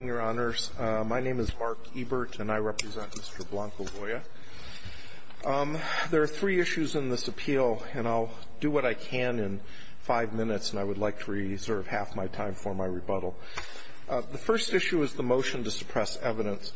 My name is Mark Ebert, and I represent Mr. Blanco-Loya. There are three issues in this appeal, and I'll do what I can in five minutes, and I would like to reserve half my time for my rebuttal. The first issue is the motion to suppress evidence.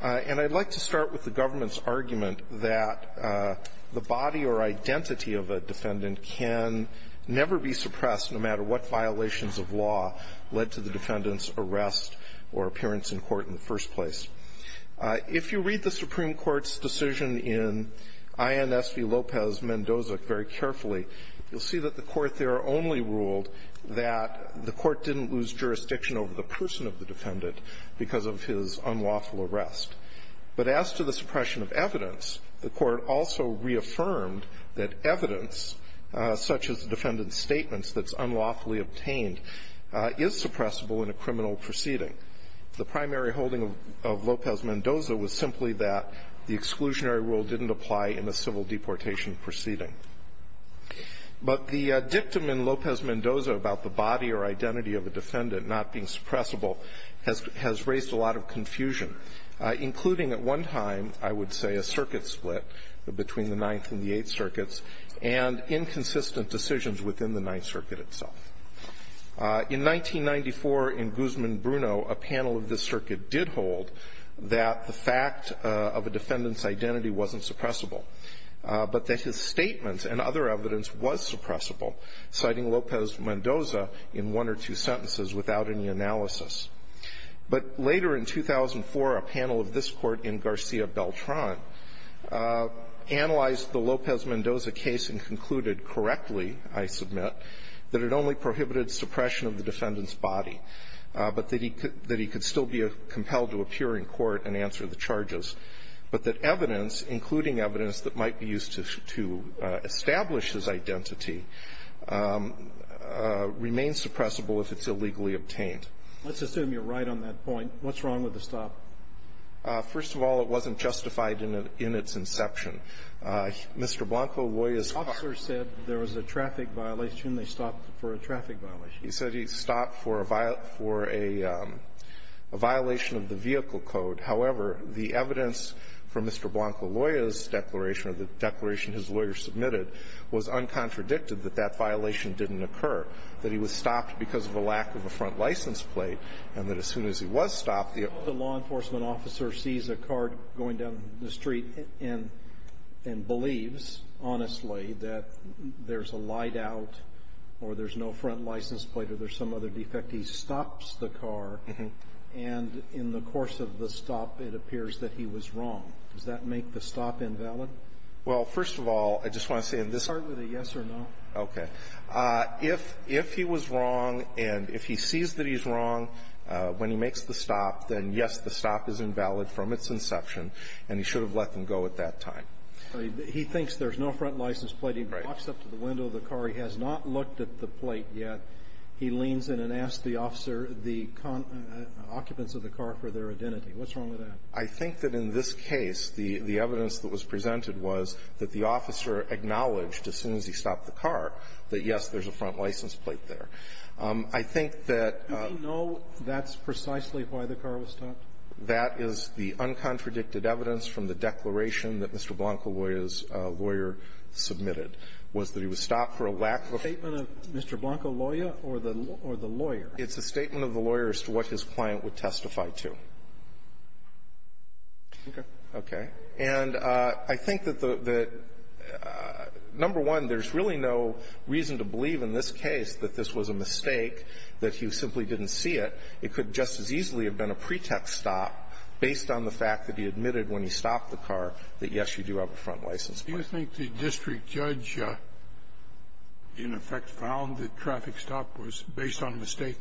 And I'd like to start with the government's argument that the body or identity of a defendant can never be suppressed, no matter what violations of law led to the defendant's arrest or appearance in court in the first place. If you read the Supreme Court's decision in INS v. Lopez-Mendoza very carefully, you'll see that the court there only ruled that the court didn't lose jurisdiction over the person of the defendant because of his unlawful arrest. But as to the suppression of evidence, the court also reaffirmed that evidence, such as defendant's statements that's unlawfully obtained, is suppressible in a criminal proceeding. The primary holding of Lopez-Mendoza was simply that the exclusionary rule didn't apply in a civil deportation proceeding. But the dictum in Lopez-Mendoza about the body or identity of a defendant not being suppressible has raised a lot of confusion, including at one time, I would say, a circuit split between the Ninth and the Eighth Circuits, and inconsistent decisions within the Ninth Circuit itself. In 1994 in Guzman-Bruno, a panel of this circuit did hold that the fact of a defendant's identity wasn't suppressible, but that his statements and other evidence was suppressible, citing Lopez-Mendoza in one or two sentences without any analysis. But later in 2004, a panel of this court in Garcia-Beltran analyzed the Lopez-Mendoza case and concluded correctly, I submit, that it only prohibited suppression of the defendant's body, but that he could still be compelled to appear in court and answer the charges, but that evidence, including evidence that might be used to establish his identity, remains suppressible if it's illegally obtained. Let's assume you're right on that point. What's wrong with the stop? First of all, it wasn't justified in its inception. Mr. Blanco-Loya's car ---- The officer said there was a traffic violation. They stopped for a traffic violation. He said he stopped for a violation of the vehicle code. However, the evidence from Mr. Blanco-Loya's declaration or the declaration his lawyer submitted was uncontradicted, that that violation didn't occur, that he was stopped because of a lack of a front license plate, and that as soon as he was stopped, the ---- The law enforcement officer sees a car going down the street and believes, honestly, that there's a light out or there's no front license plate or there's some other defect, he stops the car, and in the course of the stop, it appears that he was wrong. Does that make the stop invalid? Well, first of all, I just want to say in this ---- Start with a yes or no. Okay. If he was wrong and if he sees that he's wrong when he makes the stop, then, yes, the stop is invalid from its inception, and he should have let them go at that time. He thinks there's no front license plate. He walks up to the window of the car. He has not looked at the plate yet. He leans in and asks the officer, the occupants of the car, for their identity. What's wrong with that? I think that in this case, the evidence that was presented was that the officer acknowledged as soon as he stopped the car that, yes, there's a front license plate there. I think that ---- Do we know that's precisely why the car was stopped? That is the uncontradicted evidence from the declaration that Mr. Blanco, his lawyer, submitted, was that he was stopped for a lack of a front license plate. Is that a statement of Mr. Blanco, lawyer, or the lawyer? It's a statement of the lawyer as to what his client would testify to. Okay. Okay. And I think that the ---- number one, there's really no reason to believe in this case that this was a mistake, that he simply didn't see it. It could just as easily have been a pretext stop based on the fact that he admitted when he stopped the car that, yes, you do have a front license plate. Do you think the district judge, in effect, found that traffic stop was based on a mistake?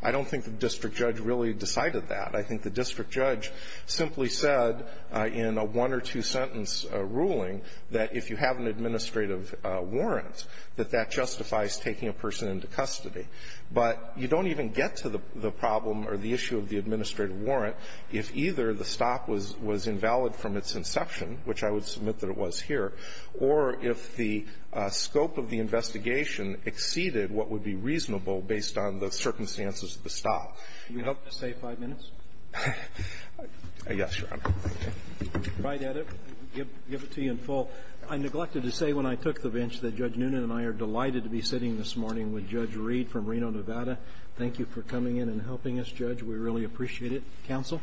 I don't think the district judge really decided that. I think the district judge simply said in a one or two-sentence ruling that if you have an administrative warrant, that that justifies taking a person into custody. But you don't even get to the problem or the issue of the administrative warrant if either the stop was invalid from its inception, which I would submit that it was here, or if the scope of the investigation exceeded what would be reasonable based on the circumstances of the stop. Can you help us save five minutes? Yes, Your Honor. I tried to edit it and give it to you in full. I neglected to say when I took the bench that Judge Noonan and I are delighted to be sitting this morning with Judge Reed from Reno, Nevada. Thank you for coming in and helping us, Judge. We really appreciate it. Counsel.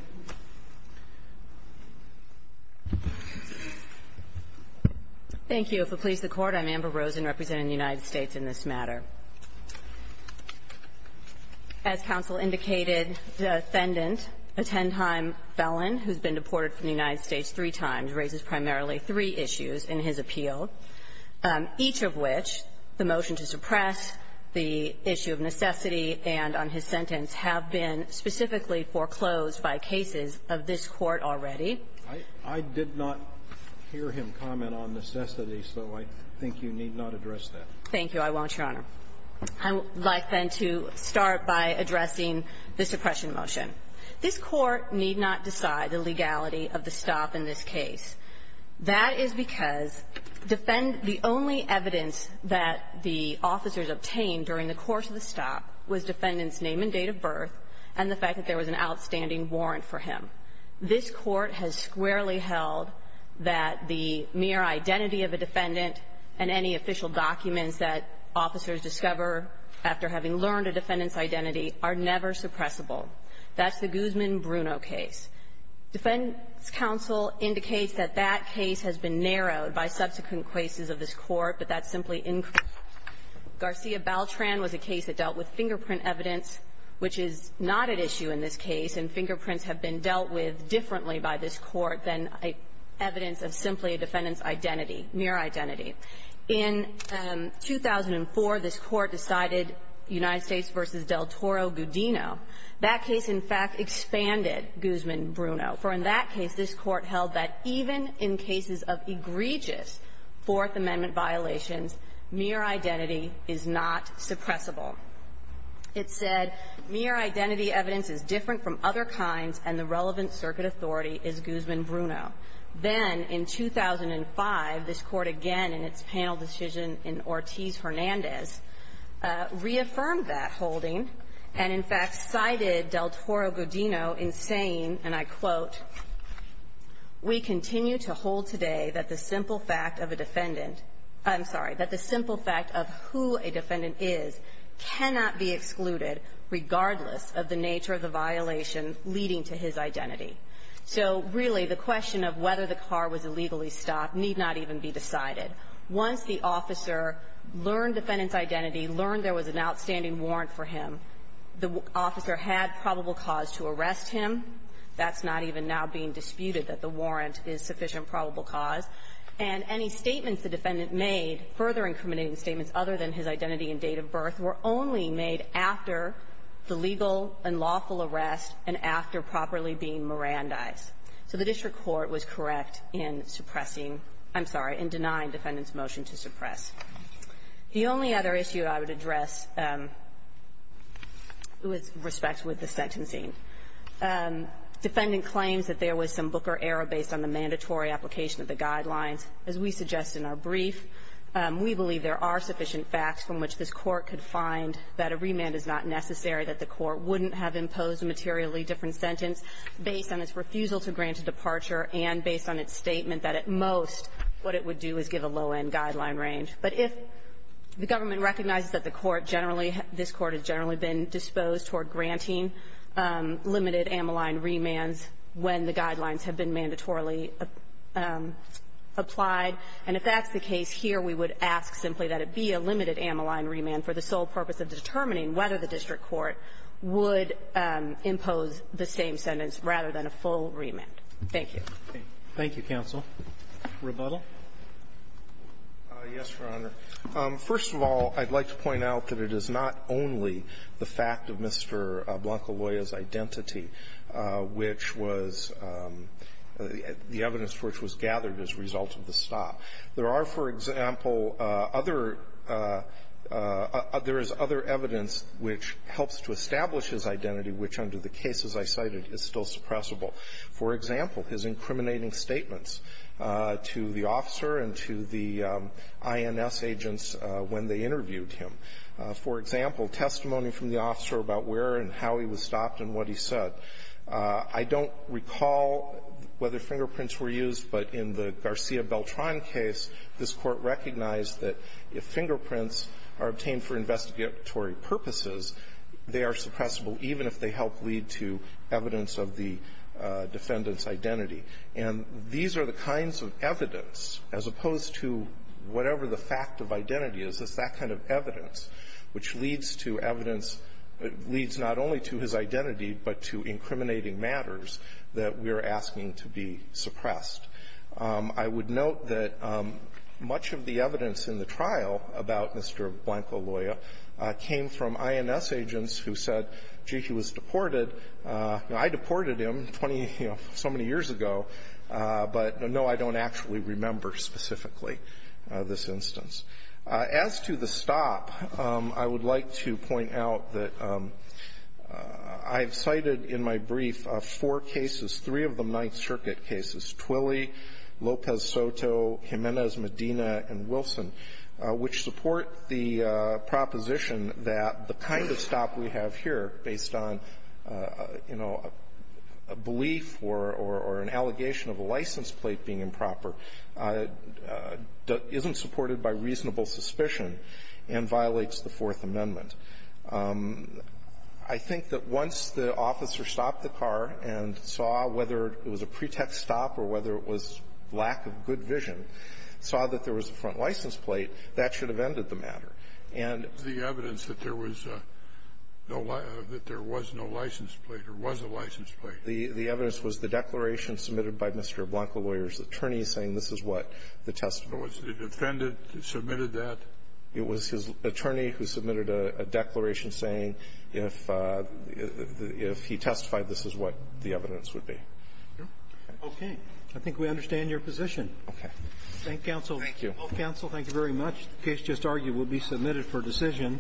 Thank you. If it pleases the Court, I'm Amber Rosen representing the United States in this matter. As counsel indicated, the defendant, a ten-time felon who's been deported from the United States three times, raises primarily three issues in his appeal, each of which the motion to suppress, the issue of necessity, and on his sentence have been specifically foreclosed by cases of this Court already. I did not hear him comment on necessity, so I think you need not address that. Thank you. I won't, Your Honor. I would like, then, to start by addressing the suppression motion. This Court need not decide the legality of the stop in this case. That is because defend the only evidence that the officers obtained during the course of the stop was defendant's name and date of birth and the fact that there was an outstanding warrant for him. This Court has squarely held that the mere identity of a defendant and any official documents that officers discover after having learned a defendant's identity are never suppressible. That's the Guzman-Bruno case. Defendant's counsel indicates that that case has been narrowed by subsequent cases of this Court, but that's simply incorrect. Garcia-Baltran was a case that dealt with fingerprint evidence, which is not at issue in this case, and fingerprints have been dealt with differently by this Court than evidence of simply a defendant's identity, mere identity. In 2004, this Court decided United States v. Del Toro-Gudino. That case, in fact, expanded Guzman-Bruno, for in that case, this Court held that even in cases of egregious Fourth Amendment violations, mere identity is not suppressible. It said, mere identity evidence is different from other kinds, and the relevant circuit authority is Guzman-Bruno. Then, in 2005, this Court again in its panel decision in Ortiz-Hernandez reaffirmed that holding and, in fact, cited Del Toro-Gudino in saying, and I quote, we continue to hold today that the simple fact of a defendant – I'm sorry, that the simple fact of who a defendant is cannot be excluded, regardless of the nature of the violation leading to his identity. So, really, the question of whether the car was illegally stopped need not even be decided. Once the officer learned defendant's identity, learned there was an outstanding warrant for him, the officer had probable cause to arrest him. That's not even now being disputed that the warrant is sufficient probable cause. And any statements the defendant made, further incriminating statements other than his identity and date of birth, were only made after the legal and lawful arrest and after properly being Mirandized. So the district court was correct in suppressing – I'm sorry, in denying defendant's motion to suppress. The only other issue I would address with respect with the sentencing, defendant claims that there was some booker error based on the mandatory application of the guidelines. As we suggest in our brief, we believe there are sufficient facts from which this court could find that a remand is not necessary, that the court wouldn't have imposed a materially different sentence based on its refusal to grant a departure and based on its statement that, at most, what it would do is give a low-end guideline range. But if the government recognizes that the court generally – this court has generally been disposed toward granting limited amyline remands when the guidelines have been applied, and if that's the case here, we would ask simply that it be a limited amyline remand for the sole purpose of determining whether the district court would impose the same sentence rather than a full remand. Thank you. Roberts. Thank you, counsel. Rebuttal. Yes, Your Honor. First of all, I'd like to point out that it is not only the fact of Mr. Blanco-Loya's stop. There are, for example, other – there is other evidence which helps to establish his identity, which, under the cases I cited, is still suppressible. For example, his incriminating statements to the officer and to the INS agents when they interviewed him. For example, testimony from the officer about where and how he was stopped and what he said. I don't recall whether fingerprints were used, but in the Garcia Beltran case, this Court recognized that if fingerprints are obtained for investigatory purposes, they are suppressible even if they help lead to evidence of the defendant's identity. And these are the kinds of evidence, as opposed to whatever the fact of identity is, it's that kind of evidence which leads to evidence – leads not only to his identity, but to incriminating matters that we're asking to be suppressed. I would note that much of the evidence in the trial about Mr. Blanco-Loya came from INS agents who said, gee, he was deported. I deported him 20 – you know, so many years ago, but, no, I don't actually remember specifically this instance. As to the stop, I would like to point out that I've cited in my brief four cases, three of them Ninth Circuit cases, Twilley, Lopez-Soto, Jimenez, Medina, and Wilson, which support the proposition that the kind of stop we have here, based on, you know, a belief or an allegation of a license plate being improper, isn't supported by reasonable suspicion and violates the Fourth Amendment. I think that once the officer stopped the car and saw whether it was a pretext stop or whether it was lack of good vision, saw that there was a front license plate, that should have ended the matter. And the evidence that there was no license plate or was a license plate. The evidence was the declaration submitted by Mr. Blanco-Loya's attorney saying this is what the testimony was. So it was the defendant who submitted that? It was his attorney who submitted a declaration saying if he testified, this is what the evidence would be. Okay. I think we understand your position. Okay. Thank you, counsel. Thank you. Counsel, thank you very much. The case just argued will be submitted for decision.